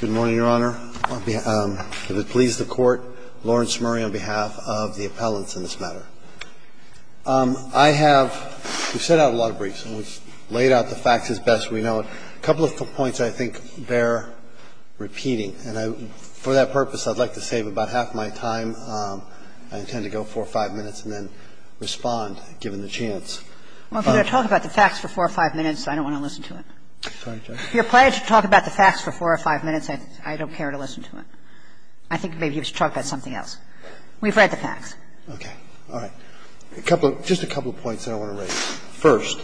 Good morning, Your Honor. If it pleases the Court, Lawrence Murray on behalf of the appellants in this matter. I have – we've sent out a lot of briefs and laid out the facts as best we know. A couple of points I think bear repeating, and for that purpose, I'd like to save about half my time. I intend to go four or five minutes and then respond, given the chance. Well, if you're going to talk about the facts for four or five minutes, I don't want to listen to it. Sorry, Judge. If you're planning to talk about the facts for four or five minutes, I don't care to listen to it. I think maybe you should talk about something else. We've read the facts. Okay. All right. A couple of – just a couple of points that I want to raise. First,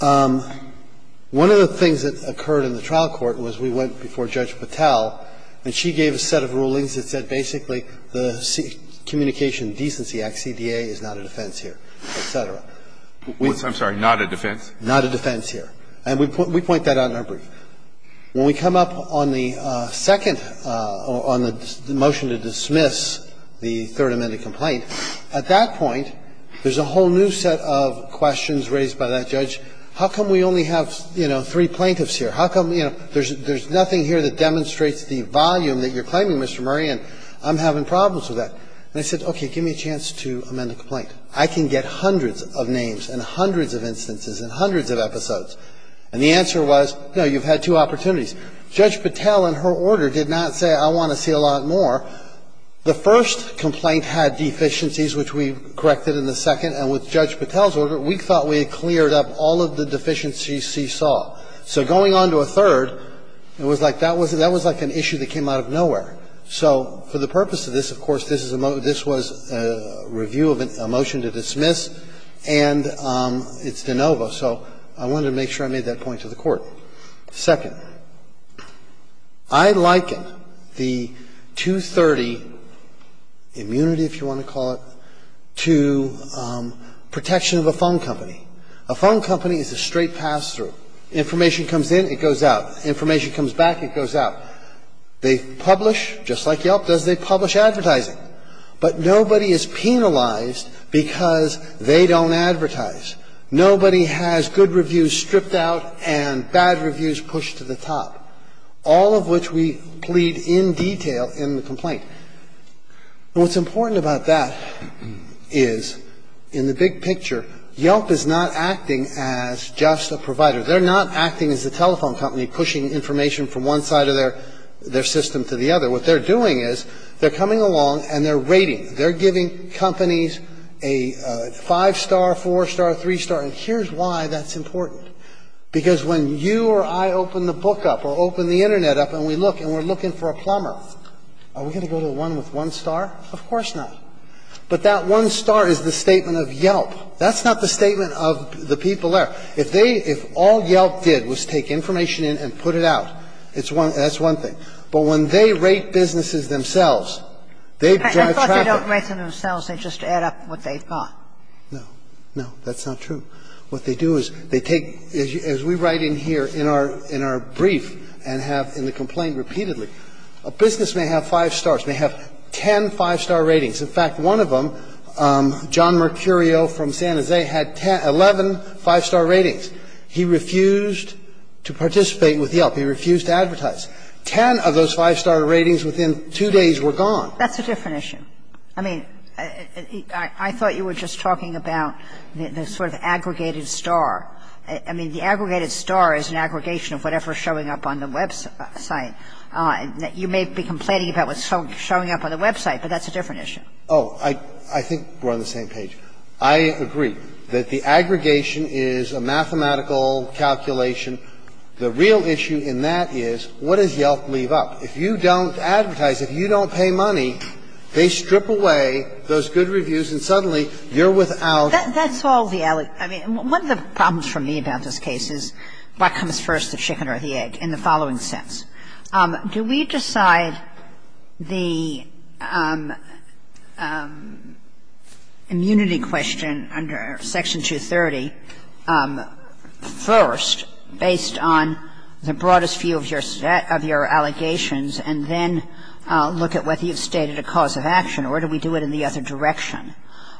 one of the things that occurred in the trial court was we went before Judge Patel, and she gave a set of rulings that said basically the Communication Decency Act, CDA, is not a defense here, et cetera. I'm sorry, not a defense? Not a defense here. And we point that out in our brief. When we come up on the second – on the motion to dismiss the third amended complaint, at that point, there's a whole new set of questions raised by that judge. How come we only have, you know, three plaintiffs here? How come, you know, there's nothing here that demonstrates the volume that you're claiming, Mr. Murray, and I'm having problems with that? And I said, okay, give me a chance to amend the complaint. I can get hundreds of names and hundreds of instances and hundreds of episodes, and the answer was, no, you've had two opportunities. Judge Patel, in her order, did not say I want to see a lot more. The first complaint had deficiencies, which we corrected in the second, and with Judge Patel's order, we thought we had cleared up all of the deficiencies she saw. So going on to a third, it was like that was – that was like an issue that came out of nowhere. So for the purpose of this, of course, this is a – this was a review of a motion to dismiss, and it's de novo. So I wanted to make sure I made that point to the Court. Second, I likened the 230 immunity, if you want to call it, to protection of a phone company. A phone company is a straight pass-through. Information comes in, it goes out. Information comes back, it goes out. They publish, just like Yelp does, they publish advertising. But nobody is penalized because they don't advertise. Nobody has good reviews stripped out and bad reviews pushed to the top, all of which we plead in detail in the complaint. What's important about that is, in the big picture, Yelp is not acting as just a provider. They're not acting as a telephone company pushing information from one side of their – their system to the other. What they're doing is they're coming along and they're rating. They're giving companies a five-star, four-star, three-star. And here's why that's important. Because when you or I open the book up or open the Internet up and we look and we're looking for a plumber, are we going to go to the one with one star? Of course not. But that one star is the statement of Yelp. That's not the statement of the people there. If they – if all Yelp did was take information in and put it out, it's one – that's one thing. But when they rate businesses themselves, they drive traffic. If they don't rate them themselves, they just add up what they've got. No. No, that's not true. What they do is they take, as we write in here in our – in our brief and have in the complaint repeatedly, a business may have five stars, may have ten five-star ratings. In fact, one of them, John Mercurio from San Jose, had ten – 11 five-star ratings. He refused to participate with Yelp. He refused to advertise. Ten of those five-star ratings within two days were gone. That's a different issue. I mean, I thought you were just talking about the sort of aggregated star. I mean, the aggregated star is an aggregation of whatever is showing up on the website. You may be complaining about what's showing up on the website, but that's a different issue. Oh, I think we're on the same page. I agree that the aggregation is a mathematical calculation. The real issue in that is what does Yelp leave up? If you don't advertise, if you don't pay money, they strip away those good reviews and suddenly you're without – That's all the – I mean, one of the problems for me about this case is what comes first, the chicken or the egg, in the following sense. Do we decide the immunity question under Section 230 first based on the broadest view of your allegations and then look at whether you've stated a cause of action? Or do we do it in the other direction?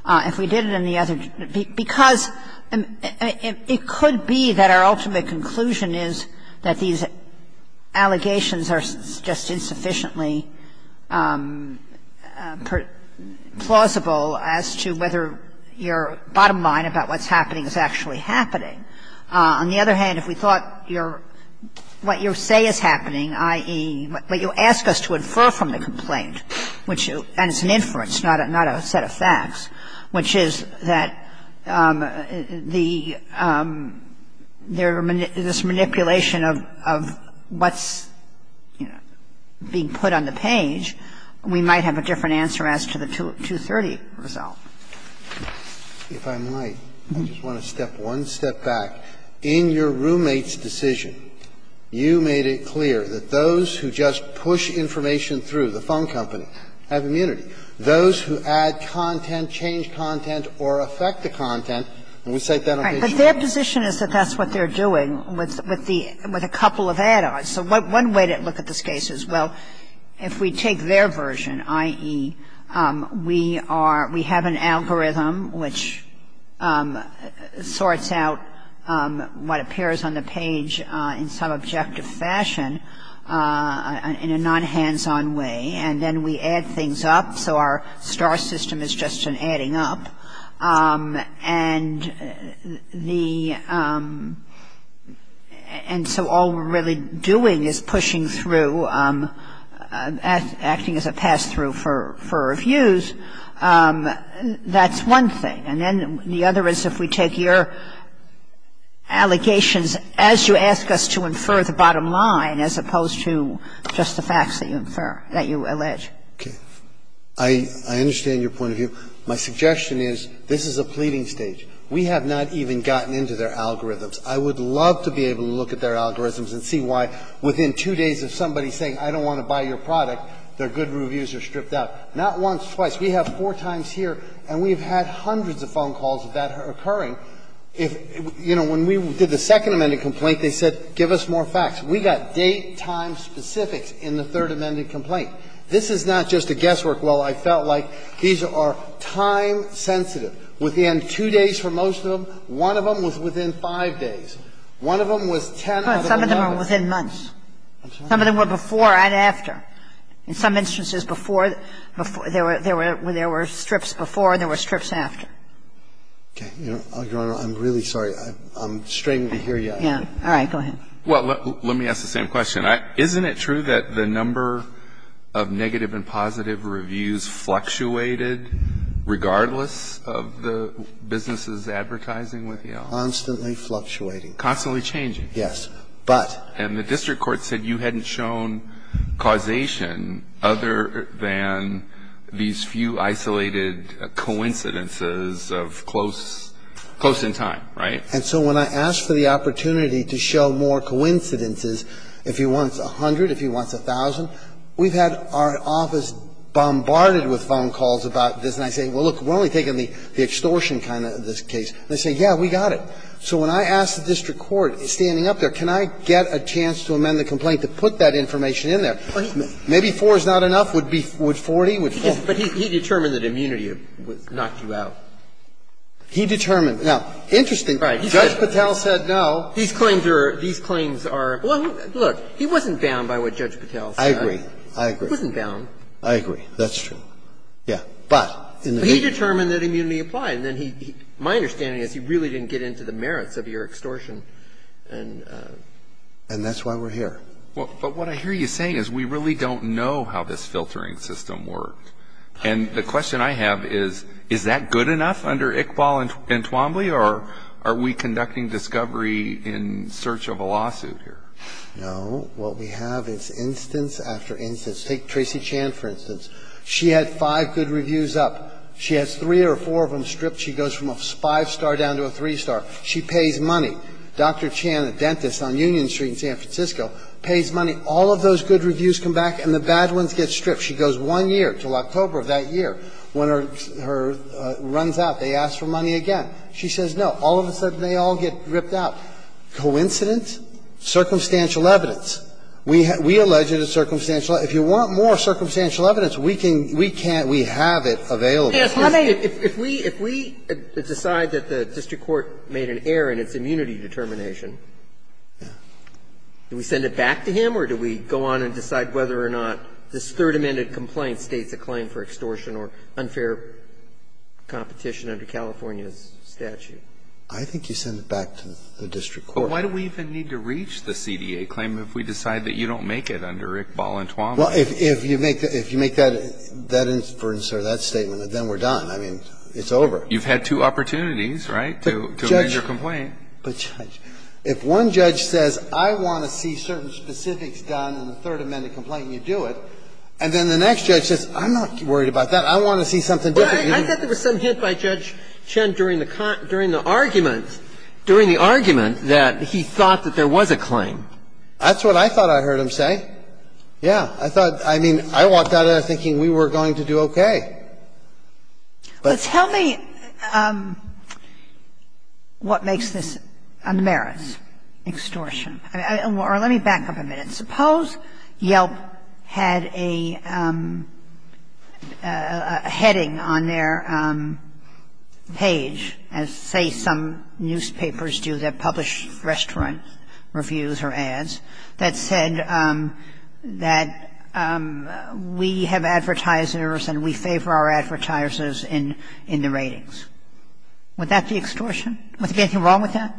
If we did it in the other – because it could be that our ultimate conclusion is that these allegations are just insufficiently plausible as to whether your bottom line about what's happening is actually happening. On the other hand, if we thought your – what you say is happening, i.e., what you ask us to infer from the complaint, which – and it's an inference, not a set of facts, which is that the – this manipulation of what's, you know, being put on the page, we might have a different answer as to the 230 result. If I might, I just want to step one step back. In your roommate's decision, you made it clear that those who just push information through, the phone company, have immunity. Those who add content, change content, or affect the content, and we cite that on page 2. But their position is that that's what they're doing with the – with a couple of add-ons. So one way to look at this case is, well, if we take their version, i.e., we are – we have an algorithm which sorts out what appears on the page in some objective fashion in a non-hands-on way, and then we add things up, so our star system is just an adding up. And the – and so all we're really doing is pushing through, acting as a pass-through for reviews. That's one thing. And then the other is if we take your allegations as you ask us to infer the bottom line, as opposed to just the facts that you infer, that you allege. Okay. I understand your point of view. My suggestion is this is a pleading stage. We have not even gotten into their algorithms. I would love to be able to look at their algorithms and see why within two days of somebody saying, I don't want to buy your product, their good reviews are stripped out. Not once, twice. We have four times here, and we've had hundreds of phone calls of that occurring. If – you know, when we did the Second Amendment complaint, they said, give us more facts. We got date, time specifics in the Third Amendment complaint. This is not just a guesswork. Well, I felt like these are time-sensitive. Within two days for most of them, one of them was within five days. One of them was 10 out of 11. So, in some instances, they were before and after. Some of them were before and after. In some instances, before – there were – there were strips before and there were strips after. Okay. Your Honor, I'm really sorry. I'm straining to hear you. Yeah. All right. Go ahead. Well, let me ask the same question. Isn't it true that the number of negative and positive reviews fluctuated regardless of the businesses advertising with you? Constantly fluctuating. Constantly changing. Yes. But – And the district court said you hadn't shown causation other than these few isolated coincidences of close – close in time, right? And so when I asked for the opportunity to show more coincidences, if he wants 100, if he wants 1,000, we've had our office bombarded with phone calls about this. And I say, well, look, we're only taking the extortion kind of this case. And they say, yeah, we got it. So when I asked the district court standing up there, can I get a chance to amend the complaint to put that information in there? Maybe four is not enough. Would 40? Would four? But he determined that immunity knocked you out. He determined. Now, interesting. Judge Patel said no. These claims are – these claims are – well, look. He wasn't bound by what Judge Patel said. I agree. I agree. He wasn't bound. I agree. That's true. Yeah. But in the – He determined that immunity applied. And then he – my understanding is he really didn't get into the merits of your extortion. And – And that's why we're here. Well, but what I hear you saying is we really don't know how this filtering system worked. And the question I have is, is that good enough under Iqbal and Twombly? Or are we conducting discovery in search of a lawsuit here? No. What we have is instance after instance. Take Tracy Chan, for instance. She had five good reviews up. She has three or four of them stripped. She goes from a five-star down to a three-star. She pays money. Dr. Chan, a dentist on Union Street in San Francisco, pays money. All of those good reviews come back, and the bad ones get stripped. She goes one year, until October of that year, when her – her – runs out. They ask for money again. She says no. All of a sudden, they all get ripped out. Coincidence? Circumstantial evidence. We have – we allege it as circumstantial. If you want more circumstantial evidence, we can – we can't – we have it available. Yes. How may – If we – if we decide that the district court made an error in its immunity determination, do we send it back to him, or do we go on and decide whether or not this Third Amendment complaint states a claim for extortion or unfair competition under California's statute? I think you send it back to the district court. But why do we even need to reach the CDA claim if we decide that you don't make it under ICBAL and Tuamot? Well, if – if you make that – if you make that inference or that statement, then we're done. I mean, it's over. You've had two opportunities, right, to amend your complaint. But, Judge – but, Judge, if one judge says, I want to see certain specifics done in the Third Amendment complaint, and you do it, and then the next judge says, I'm not worried about that. I want to see something different. Well, I thought there was some hint by Judge Chen during the – during the argument that he thought that there was a claim. That's what I thought I heard him say. Yeah. I thought – I mean, I walked out of there thinking we were going to do okay. But – But tell me what makes this a merits extortion. Or let me back up a minute. Suppose Yelp had a – a heading on their page as, say, some new claim. And it said, we have advertisers, and we favor our advertisers in the ratings. Would that be extortion? Would there be anything wrong with that?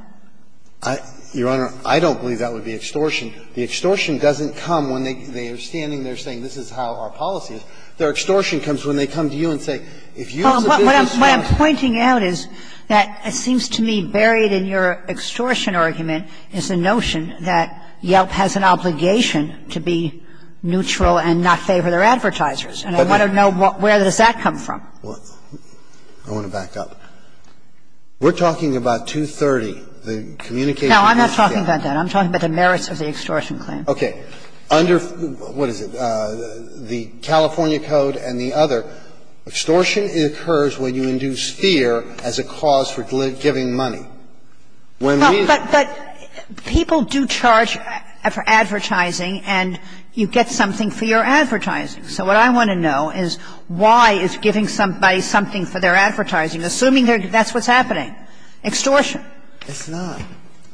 Your Honor, I don't believe that would be extortion. The extortion doesn't come when they are standing there saying, this is how our policy is. Their extortion comes when they come to you and say, if you as a business owner What I'm pointing out is that it seems to me buried in your extortion argument is the notion that Yelp has an obligation to be neutral and not favor their advertisers. And I want to know where does that come from? I want to back up. We're talking about 230, the communication policy. No, I'm not talking about that. I'm talking about the merits of the extortion claim. Okay. Under – what is it? Under the California Code and the other, extortion occurs when you induce fear as a cause for giving money. But people do charge for advertising, and you get something for your advertising. So what I want to know is why is giving somebody something for their advertising, assuming that's what's happening? Extortion. It's not.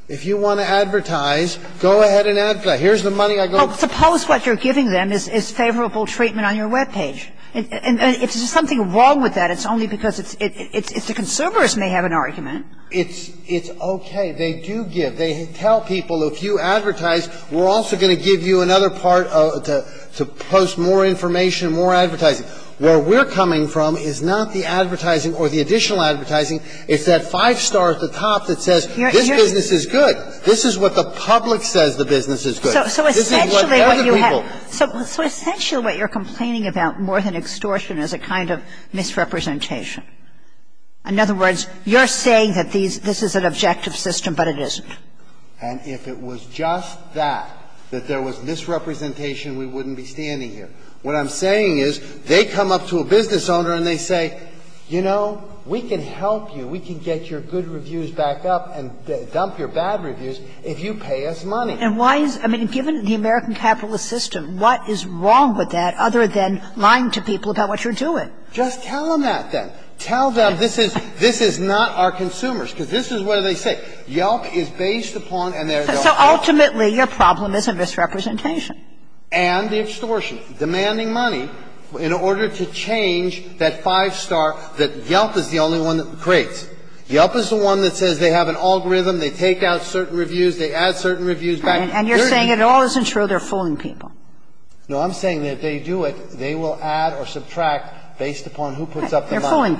If you want to advertise, go ahead and advertise. Here's the money I got. Well, suppose what you're giving them is favorable treatment on your web page. And if there's something wrong with that, it's only because it's – it's – the conservers may have an argument. It's – it's okay. They do give. They tell people, if you advertise, we're also going to give you another part to post more information, more advertising. Where we're coming from is not the advertising or the additional advertising. It's that five star at the top that says this business is good. This is what the public says the business is good. This is what other people – So essentially what you're complaining about more than extortion is a kind of misrepresentation. In other words, you're saying that these – this is an objective system, but it isn't. And if it was just that, that there was misrepresentation, we wouldn't be standing here. What I'm saying is they come up to a business owner and they say, you know, we can help you. We can get your good reviews back up and dump your bad reviews if you pay us money. And why is – I mean, given the American capitalist system, what is wrong with that other than lying to people about what you're doing? Just tell them that, then. Tell them this is – this is not our consumers, because this is what they say. Yelp is based upon and they're – So ultimately, your problem is a misrepresentation. And the extortion, demanding money in order to change that five star that Yelp is the only one that creates. Yelp is the one that says they have an algorithm. They take out certain reviews. They add certain reviews back. And you're saying it all isn't true. They're fooling people. No, I'm saying that if they do it, they will add or subtract based upon who puts up the money. They're fooling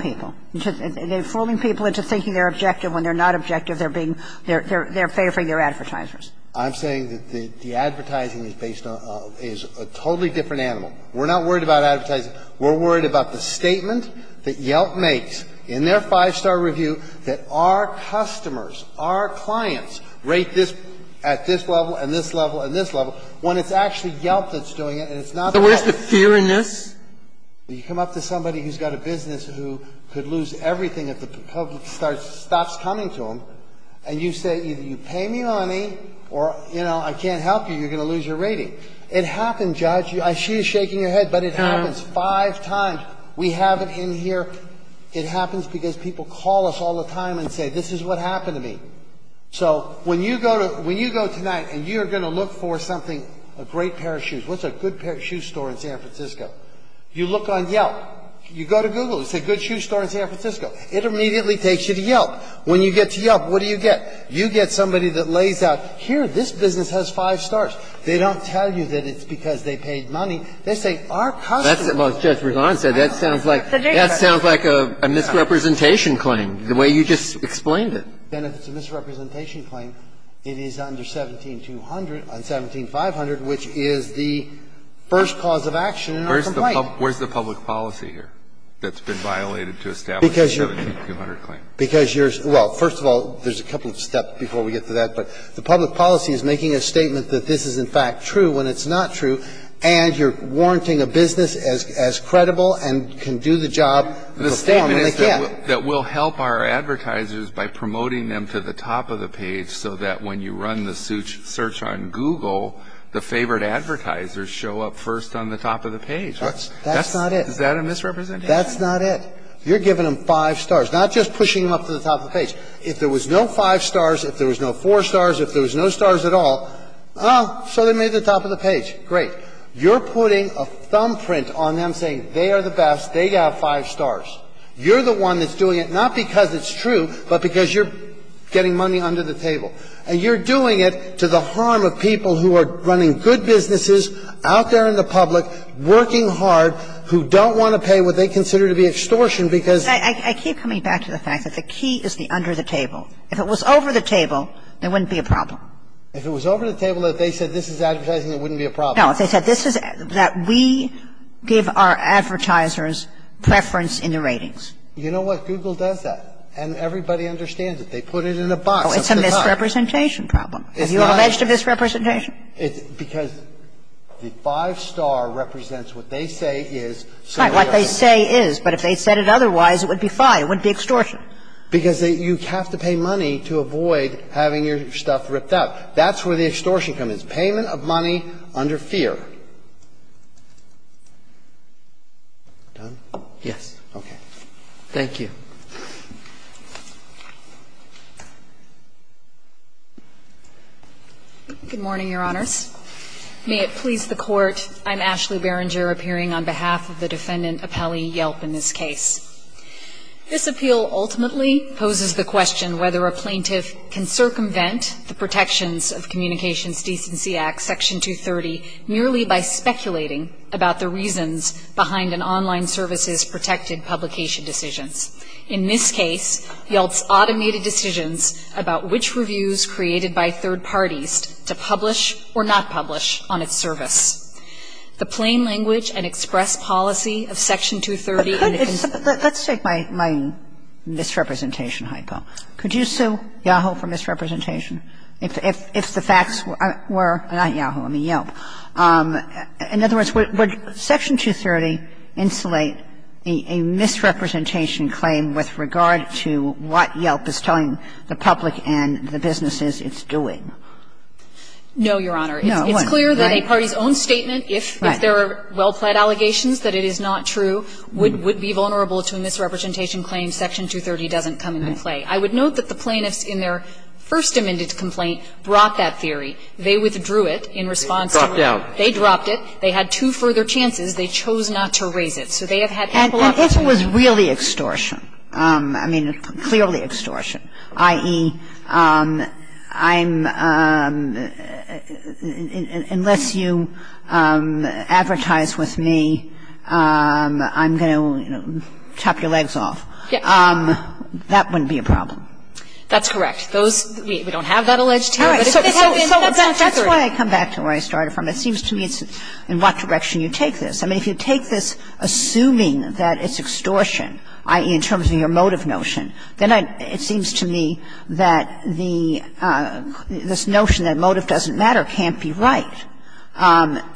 people. They're fooling people into thinking they're objective when they're not objective. They're being – they're favoring their advertisers. I'm saying that the advertising is based on – is a totally different animal. We're not worried about advertising. We're worried about the statement that Yelp makes in their five star review that our customers, our clients rate this at this level and this level and this level when it's actually Yelp that's doing it and it's not Yelp. So where's the fear in this? You come up to somebody who's got a business who could lose everything if the public stops coming to them. And you say, either you pay me money or, you know, I can't help you, you're going to lose your rating. It happened, Judge. I see you shaking your head, but it happens five times. We have it in here. It happens because people call us all the time and say, this is what happened to me. So when you go to – when you go tonight and you're going to look for something, a great pair of shoes, what's a good pair of shoe store in San Francisco? You look on Yelp. You go to Google. It's a good shoe store in San Francisco. It immediately takes you to Yelp. When you get to Yelp, what do you get? You get somebody that lays out, here, this business has five stars. They don't tell you that it's because they paid money. They say, our customers – Well, Judge, that sounds like – that sounds like a misrepresentation claim, the way you just explained it. And if it's a misrepresentation claim, it is under 17200 – on 17500, which is the first cause of action in our complaint. Where's the public policy here that's been violated to establish a 17200 claim? Because you're – well, first of all, there's a couple of steps before we get to that. But the public policy is making a statement that this is, in fact, true when it's not true, and you're warranting a business as credible and can do the job with a form when they can't. That will help our advertisers by promoting them to the top of the page so that when you run the search on Google, the favorite advertisers show up first on the top of the page. That's – that's not it. Is that a misrepresentation? That's not it. You're giving them five stars, not just pushing them up to the top of the page. If there was no five stars, if there was no four stars, if there was no stars at all, oh, so they made it to the top of the page. Great. You're putting a thumbprint on them saying they are the best, they got five stars. You're the one that's doing it, not because it's true, but because you're getting money under the table. And you're doing it to the harm of people who are running good businesses out there in the public, working hard, who don't want to pay what they consider to be extortion because – I keep coming back to the fact that the key is the under the table. If it was over the table, there wouldn't be a problem. If it was over the table, if they said this is advertising, there wouldn't be a problem. No. If they said this is that we give our advertisers preference in the ratings. You know what? Google does that. And everybody understands it. They put it in a box. It's a misrepresentation problem. Have you alleged a misrepresentation? It's because the five star represents what they say is. Right. What they say is. But if they said it otherwise, it would be fine. It wouldn't be extortion. Because you have to pay money to avoid having your stuff ripped out. That's where the extortion comes in. The payment of money under fear. Done? Yes. Okay. Thank you. Good morning, Your Honors. May it please the Court. I'm Ashley Berenger, appearing on behalf of the Defendant Appelli Yelp in this case. This appeal ultimately poses the question whether a plaintiff can circumvent the protections of Communications Decency Act Section 230 merely by speculating about the reasons behind an online service's protected publication decisions. In this case, Yelp's automated decisions about which reviews created by third parties to publish or not publish on its service. The plain language and express policy of Section 230. Let's take my misrepresentation hypo. Could you sue Yahoo for misrepresentation? If the facts were not Yahoo, I mean Yelp. In other words, would Section 230 insulate a misrepresentation claim with regard to what Yelp is telling the public and the businesses it's doing? No, Your Honor. It's clear that a party's own statement, if there are well-plaid allegations that it is not true, would be vulnerable to a misrepresentation claim. Section 230 doesn't come into play. I would note that the plaintiffs in their first amended complaint brought that theory. They withdrew it in response to it. They dropped it. They had two further chances. They chose not to raise it. So they have had ample opportunity. And if it was really extortion, I mean clearly extortion, i.e., I'm unless you advertise with me, I'm going to chop your legs off. Yes. If it's really extortion, if it's really being done, if the decisions are not being made, if it's really extortion, that wouldn't be a problem. That's correct. Those we don't have that alleged here, but if they have it in Section 230. All right. So that's why I come back to where I started from. It seems to me it's in what direction you take this. I mean, if you take this assuming that it's extortion, i.e., in terms of your motive notion, then it seems to me that this notion that motive doesn't matter can't be right.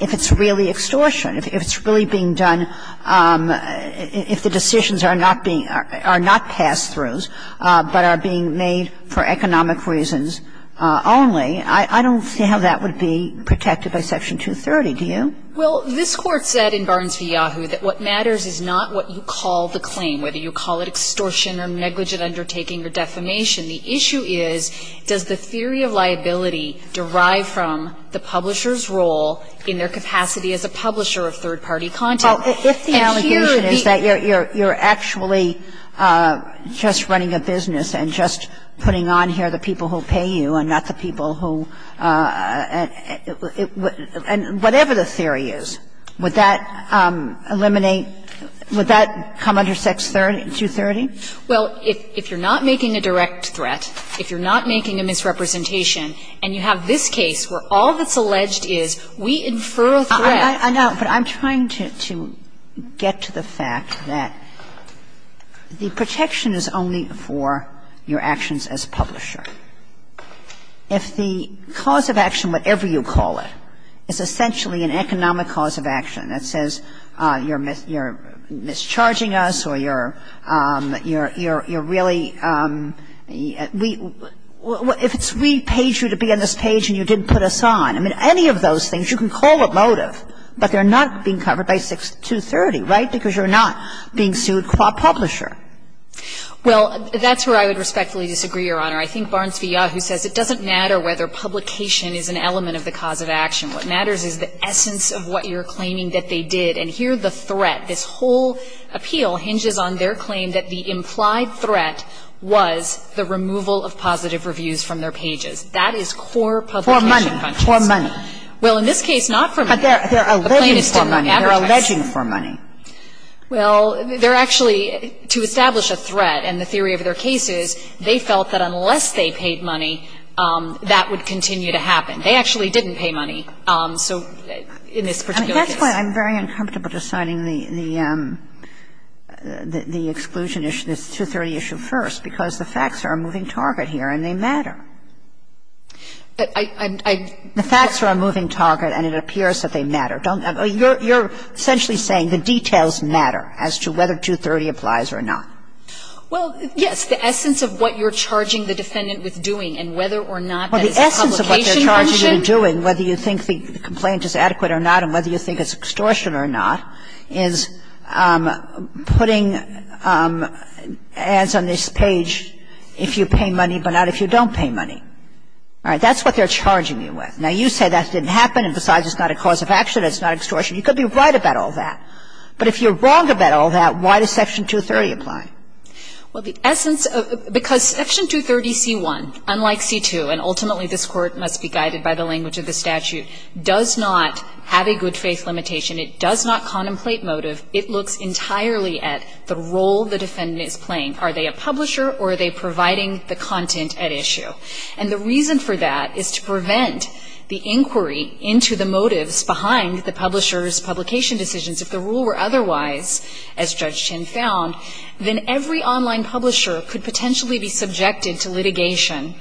If it's really extortion, if it's really being done, if the decisions are not pass-throughs but are being made for economic reasons only, I don't see how that would be protected by Section 230. Do you? Well, this Court said in Barnes v. Yahoo! that what matters is not what you call the claim, whether you call it extortion or negligent undertaking or defamation. The issue is, does the theory of liability derive from the publisher's role in their capacity as a publisher of third-party content? Well, if the allegation is that you're actually just running a business and just putting on here the people who pay you and not the people who – and whatever the theory is, would that eliminate – would that come under Section 230? Well, if you're not making a direct threat, if you're not making a misrepresentation, and you have this case where all that's alleged is we infer a threat – I know, but I'm trying to get to the fact that the protection is only for your actions as publisher. If the cause of action, whatever you call it, is essentially an economic cause of action that says you're mischarging us or you're really – if it's we paid you to be on this page and you didn't put us on, I mean, any of those things, you can call it motive, but they're not being covered by 230, right, because you're not being sued qua publisher. Well, that's where I would respectfully disagree, Your Honor. I think Barnes v. Yahoo! says it doesn't matter whether publication is an element of the cause of action. What matters is the essence of what you're claiming that they did, and here the threat, this whole appeal hinges on their claim that the implied threat was the removal of positive reviews from their pages. That is core publication function. For money. For money. Well, in this case, not for money. But they're alleging for money. The claim is to advertise. They're alleging for money. Well, they're actually – to establish a threat, and the theory of their case is they felt that unless they paid money, that would continue to happen. They actually didn't pay money, so in this particular case. I mean, that's why I'm very uncomfortable deciding the exclusion issue, this 230 issue first, because the facts are a moving target here and they matter. I – I – The facts are a moving target and it appears that they matter. You're essentially saying the details matter as to whether 230 applies or not. Well, yes, the essence of what you're charging the defendant with doing and whether or not that is a publication function. Well, the essence of what they're charging you with doing, whether you think the complaint is adequate or not and whether you think it's extortion or not, is putting ads on this page if you pay money but not if you don't pay money. All right? That's what they're charging you with. Now, you say that didn't happen and besides, it's not a cause of action, it's not extortion. You could be right about all that. But if you're wrong about all that, why does Section 230 apply? Well, the essence of – because Section 230c-1, unlike c-2, and ultimately this Court must be guided by the language of the statute, does not have a good faith limitation. It does not contemplate motive. It looks entirely at the role the defendant is playing. Are they a publisher or are they providing the content at issue? And the reason for that is to prevent the inquiry into the motives behind the publisher's publication decisions. If the rule were otherwise, as Judge Chinn found, then every online publisher could potentially be subjected to litigation,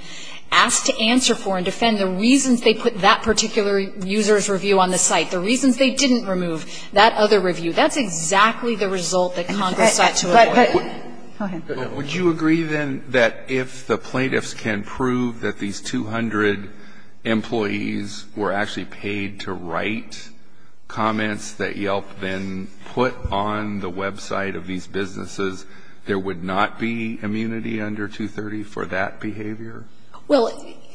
asked to answer for and defend the reasons they put that particular user's review on the site, the reasons they didn't remove that other review. That's exactly the result that Congress sought to avoid. But, but – go ahead. Would you agree, then, that if the plaintiffs can prove that these 200 employees were actually paid to write comments that Yelp then put on the website of these businesses, there would not be immunity under 230 for that behavior? Well,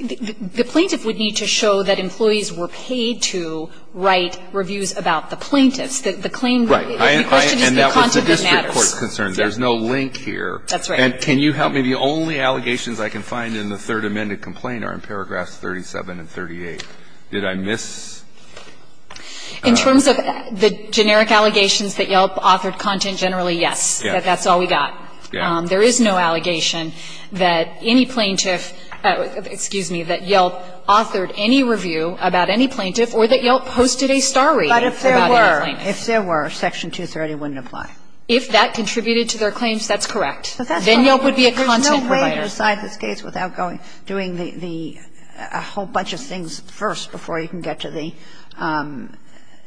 the plaintiff would need to show that employees were paid to write reviews about the plaintiffs. The claim that the question is the content that matters. Right. And that was a district court concern. There's no link here. That's right. And can you help me? The only allegations I can find in the Third Amendment complaint are in paragraphs 37 and 38. Did I miss? In terms of the generic allegations that Yelp authored content generally, yes. That's all we got. There is no allegation that any plaintiff – excuse me, that Yelp authored any review about any plaintiff or that Yelp posted a star read about any plaintiff. But if there were, if there were, section 230 wouldn't apply. If that contributed to their claims, that's correct. Then Yelp would be a content provider. There's no way to decide this case without going – doing the – a whole bunch of things first before you can get to the –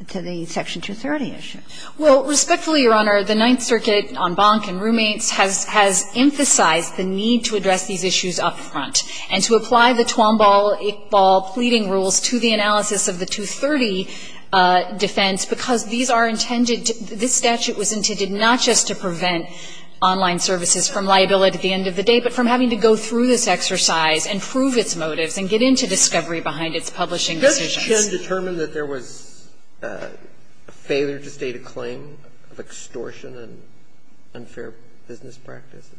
to the section 230 issue. Well, respectfully, Your Honor, the Ninth Circuit on Bonk and Roommates has emphasized the need to address these issues up front and to apply the Twomball-Iqbal pleading rules to the analysis of the 230 defense, because these are intended – this statute was intended not just to prevent online services from liability at the end of the day, but from having to go through this exercise and prove its motives and get into discovery behind its publishing decisions. Did Judge Chin determine that there was a failure to state a claim of extortion and unfair business practices?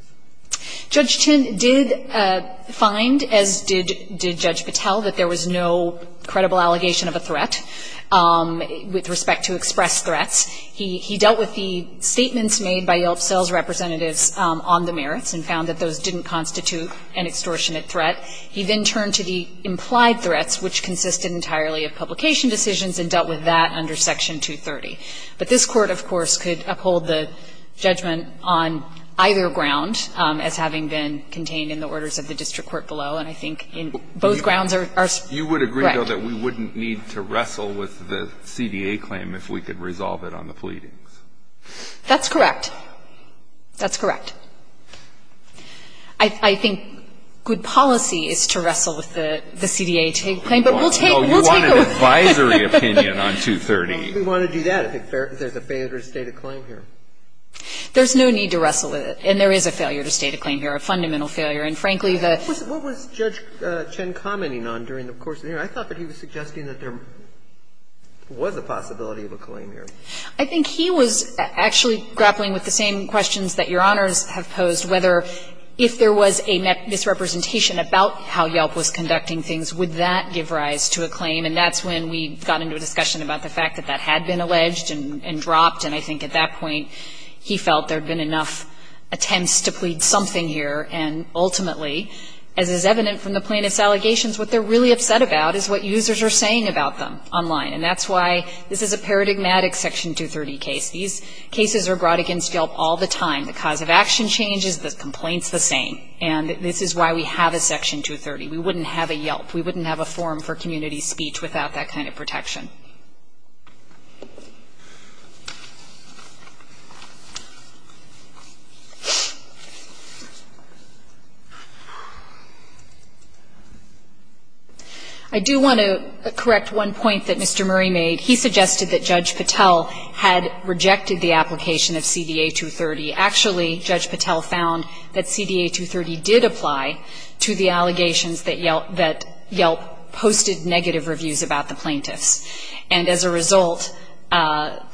Judge Chin did find, as did Judge Patel, that there was no credible allegation of a threat with respect to expressed threats. He dealt with the statements made by Yelp sales representatives on the merits and found that those didn't constitute an extortionate threat. He then turned to the implied threats, which consisted entirely of publication decisions, and dealt with that under Section 230. But this Court, of course, could uphold the judgment on either ground as having been contained in the orders of the district court below, and I think in both grounds are – are – right. You would agree, though, that we wouldn't need to wrestle with the CDA claim if we could resolve it on the pleadings? That's correct. That's correct. I think good policy is to wrestle with the CDA claim. But we'll take – we'll take a look. Oh, you want an advisory opinion on 230. We want to do that if there's a failure to state a claim here. There's no need to wrestle with it. And there is a failure to state a claim here, a fundamental failure. And frankly, the – What was Judge Chin commenting on during the course of the hearing? I thought that he was suggesting that there was a possibility of a claim here. I think he was actually grappling with the same questions that Your Honors have posed, whether if there was a misrepresentation about how Yelp was conducting things, would that give rise to a claim. And that's when we got into a discussion about the fact that that had been alleged and dropped, and I think at that point he felt there had been enough attempts to plead something here. And ultimately, as is evident from the plaintiff's allegations, what they're really upset about is what users are saying about them online. And that's why this is a paradigmatic Section 230 case. These cases are brought against Yelp all the time. The cause of action changes, the complaint's the same. And this is why we have a Section 230. We wouldn't have a Yelp. We wouldn't have a forum for community speech without that kind of protection. I do want to correct one point that Mr. Murray made. He suggested that Judge Patel had rejected the application of CDA 230. Actually, Judge Patel found that CDA 230 did apply to the allegations that Yelp posted negative reviews about the plaintiffs. And as a result, the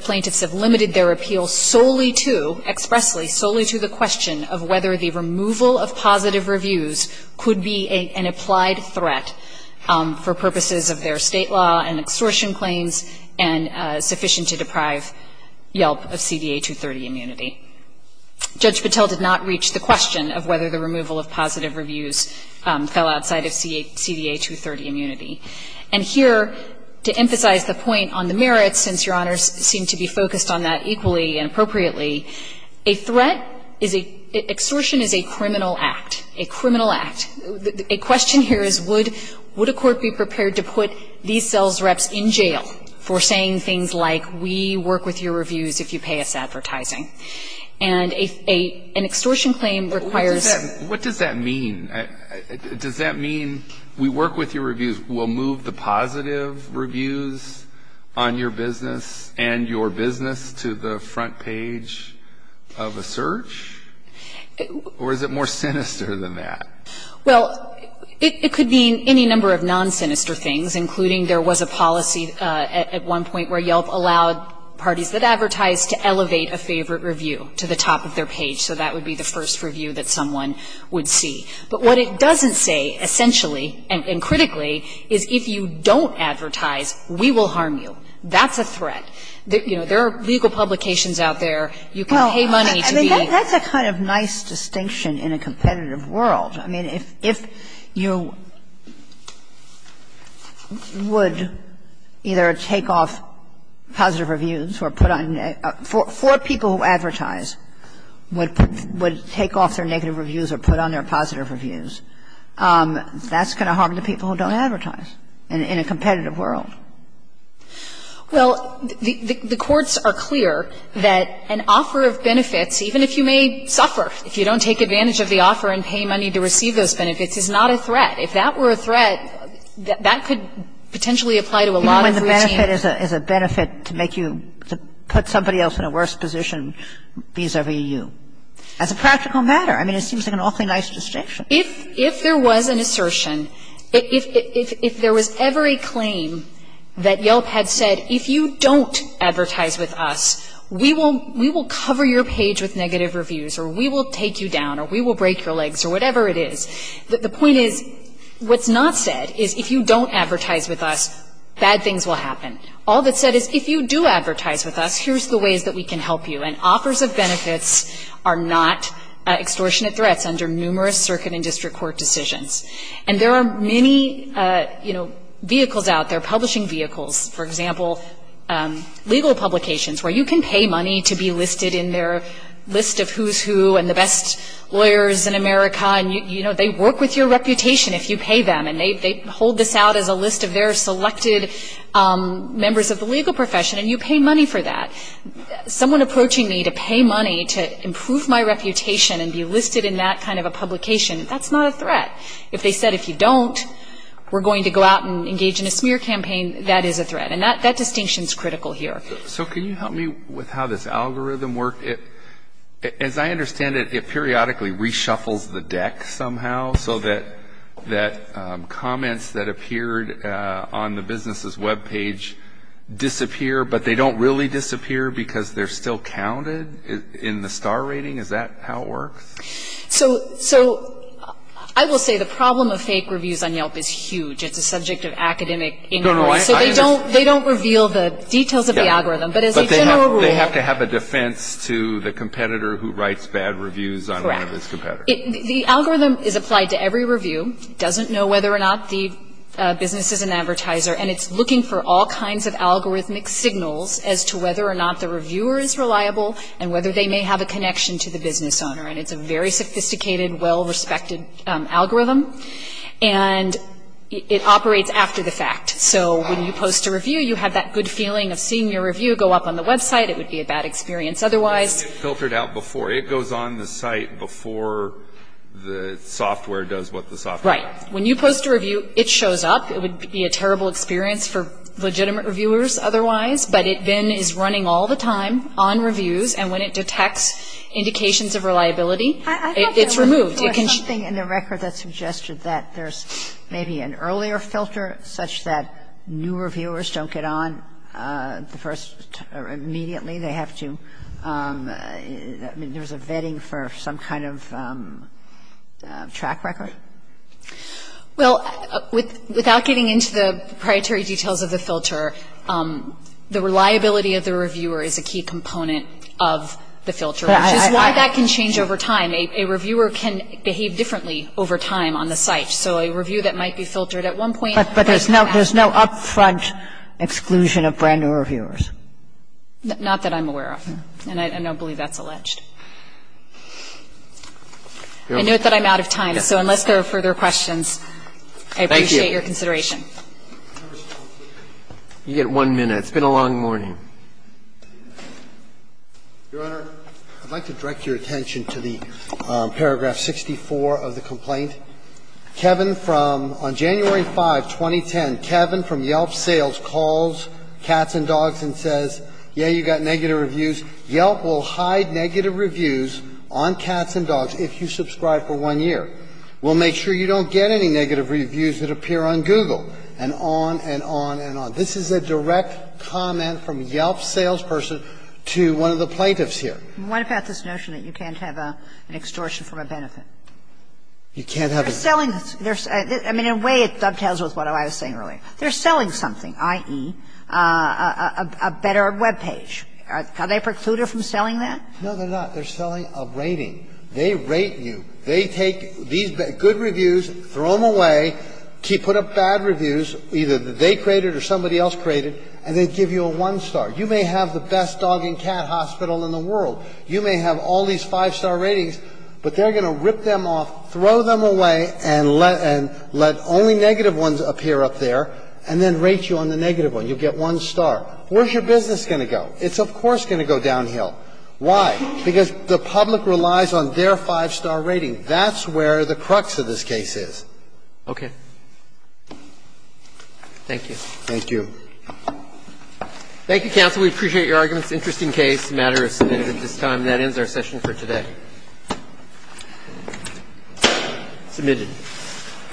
plaintiffs have limited their appeal solely to, expressly, solely to the question of whether the removal of positive reviews could be an applied threat for purposes of their State law and extortion claims and sufficient to deprive Yelp of CDA 230 immunity. Judge Patel did not reach the question of whether the removal of positive reviews fell outside of CDA 230 immunity. And here, to emphasize the point on the merits, since Your Honors seem to be focused on that equally and appropriately, a threat is a ‑‑ extortion is a criminal act, a criminal act. A question here is would a court be prepared to put these sales reps in jail for saying things like, we work with your reviews if you pay us advertising? And an extortion claim requires ‑‑ What does that mean? Does that mean we work with your reviews, we'll move the positive reviews on your business and your business to the front page of a search? Or is it more sinister than that? Well, it could mean any number of non-sinister things, including there was a policy at one point where Yelp allowed parties that advertised to elevate a favorite review to the top of their page. So that would be the first review that someone would see. But what it doesn't say, essentially and critically, is if you don't advertise, we will harm you. That's a threat. You know, there are legal publications out there. You can pay money to be ‑‑ Well, I mean, that's a kind of nice distinction in a competitive world. I mean, if you would either take off positive reviews or put on ‑‑ for people who advertise, would take off their negative reviews or put on their positive reviews, that's going to harm the people who don't advertise in a competitive world. Well, the courts are clear that an offer of benefits, even if you may suffer, if you don't take advantage of the offer and pay money to receive those benefits, is not a threat. If that were a threat, that could potentially apply to a lot of routine. Even when the benefit is a benefit to make you put somebody else in a worse position vis‑a‑vis you. That's a practical matter. I mean, it seems like an awfully nice distinction. If there was an assertion, if there was ever a claim that Yelp had said, if you don't advertise with us, we will cover your page with negative reviews, or we will take you down, or we will break your legs, or whatever it is. The point is, what's not said is, if you don't advertise with us, bad things will happen. All that's said is, if you do advertise with us, here's the ways that we can help you. And offers of benefits are not extortionate threats under numerous circuit and district court decisions. And there are many, you know, vehicles out there, publishing vehicles. For example, legal publications, where you can pay money to be listed in their list of who's who and the best lawyers in America. And, you know, they work with your reputation if you pay them. And they hold this out as a list of their selected members of the legal profession, and you pay money for that. Someone approaching me to pay money to improve my reputation and be listed in that kind of a publication, that's not a threat. If they said, if you don't, we're going to go out and engage in a smear campaign, that is a threat. And that distinction is critical here. So can you help me with how this algorithm works? As I understand it, it periodically reshuffles the deck somehow so that comments that appeared on the business's web page disappear, but they don't really disappear because they're still counted in the star rating? Is that how it works? So I will say the problem of fake reviews on Yelp is huge. It's a subject of academic inquiry. So they don't reveal the details of the algorithm, but as a general rule. But they have to have a defense to the competitor who writes bad reviews on one of its competitors. Correct. The algorithm is applied to every review. It doesn't know whether or not the business is an advertiser, and it's looking for all kinds of algorithmic signals as to whether or not the reviewer is reliable and whether they may have a connection to the business owner. And it's a very sophisticated, well-respected algorithm. And it operates after the fact. So when you post a review, you have that good feeling of seeing your review go up on the website. It would be a bad experience otherwise. It's filtered out before. It goes on the site before the software does what the software does. Right. When you post a review, it shows up. It would be a terrible experience for legitimate reviewers otherwise. But it then is running all the time on reviews, and when it detects indications of reliability, it's removed. There was something in the record that suggested that there's maybe an earlier filter such that new reviewers don't get on the first or immediately. They have to. I mean, there was a vetting for some kind of track record. Well, without getting into the proprietary details of the filter, the reliability of the reviewer is a key component of the filter, which is why that can change over time. A reviewer can behave differently over time on the site. So a review that might be filtered at one point. But there's no up-front exclusion of brand-new reviewers. Not that I'm aware of. And I don't believe that's alleged. I note that I'm out of time. So unless there are further questions, I appreciate your consideration. Thank you. You get one minute. It's been a long morning. Your Honor, I'd like to direct your attention to the paragraph 64 of the complaint. Kevin from January 5, 2010, Kevin from Yelp Sales calls Cats and Dogs and says, yeah, you got negative reviews. Yelp will hide negative reviews on Cats and Dogs if you subscribe for one year. We'll make sure you don't get any negative reviews that appear on Google, and on and on and on. This is a direct comment from Yelp's salesperson to one of the plaintiffs here. And what about this notion that you can't have an extortion from a benefit? You can't have a ---- They're selling. I mean, in a way, it dovetails with what I was saying earlier. They're selling something, i.e., a better web page. Are they precluded from selling that? No, they're not. They're selling a rating. They rate you. They take these good reviews, throw them away, put up bad reviews, either that they created or somebody else created, and they give you a one-star. You may have the best dog and cat hospital in the world. You may have all these five-star ratings, but they're going to rip them off, throw them away, and let only negative ones appear up there, and then rate you on the negative one. You'll get one star. Where's your business going to go? It's, of course, going to go downhill. Why? Because the public relies on their five-star rating. That's where the crux of this case is. Okay. Thank you. Thank you. Thank you, counsel. We appreciate your arguments. Interesting case. The matter is submitted at this time. That ends our session for today. Submitted.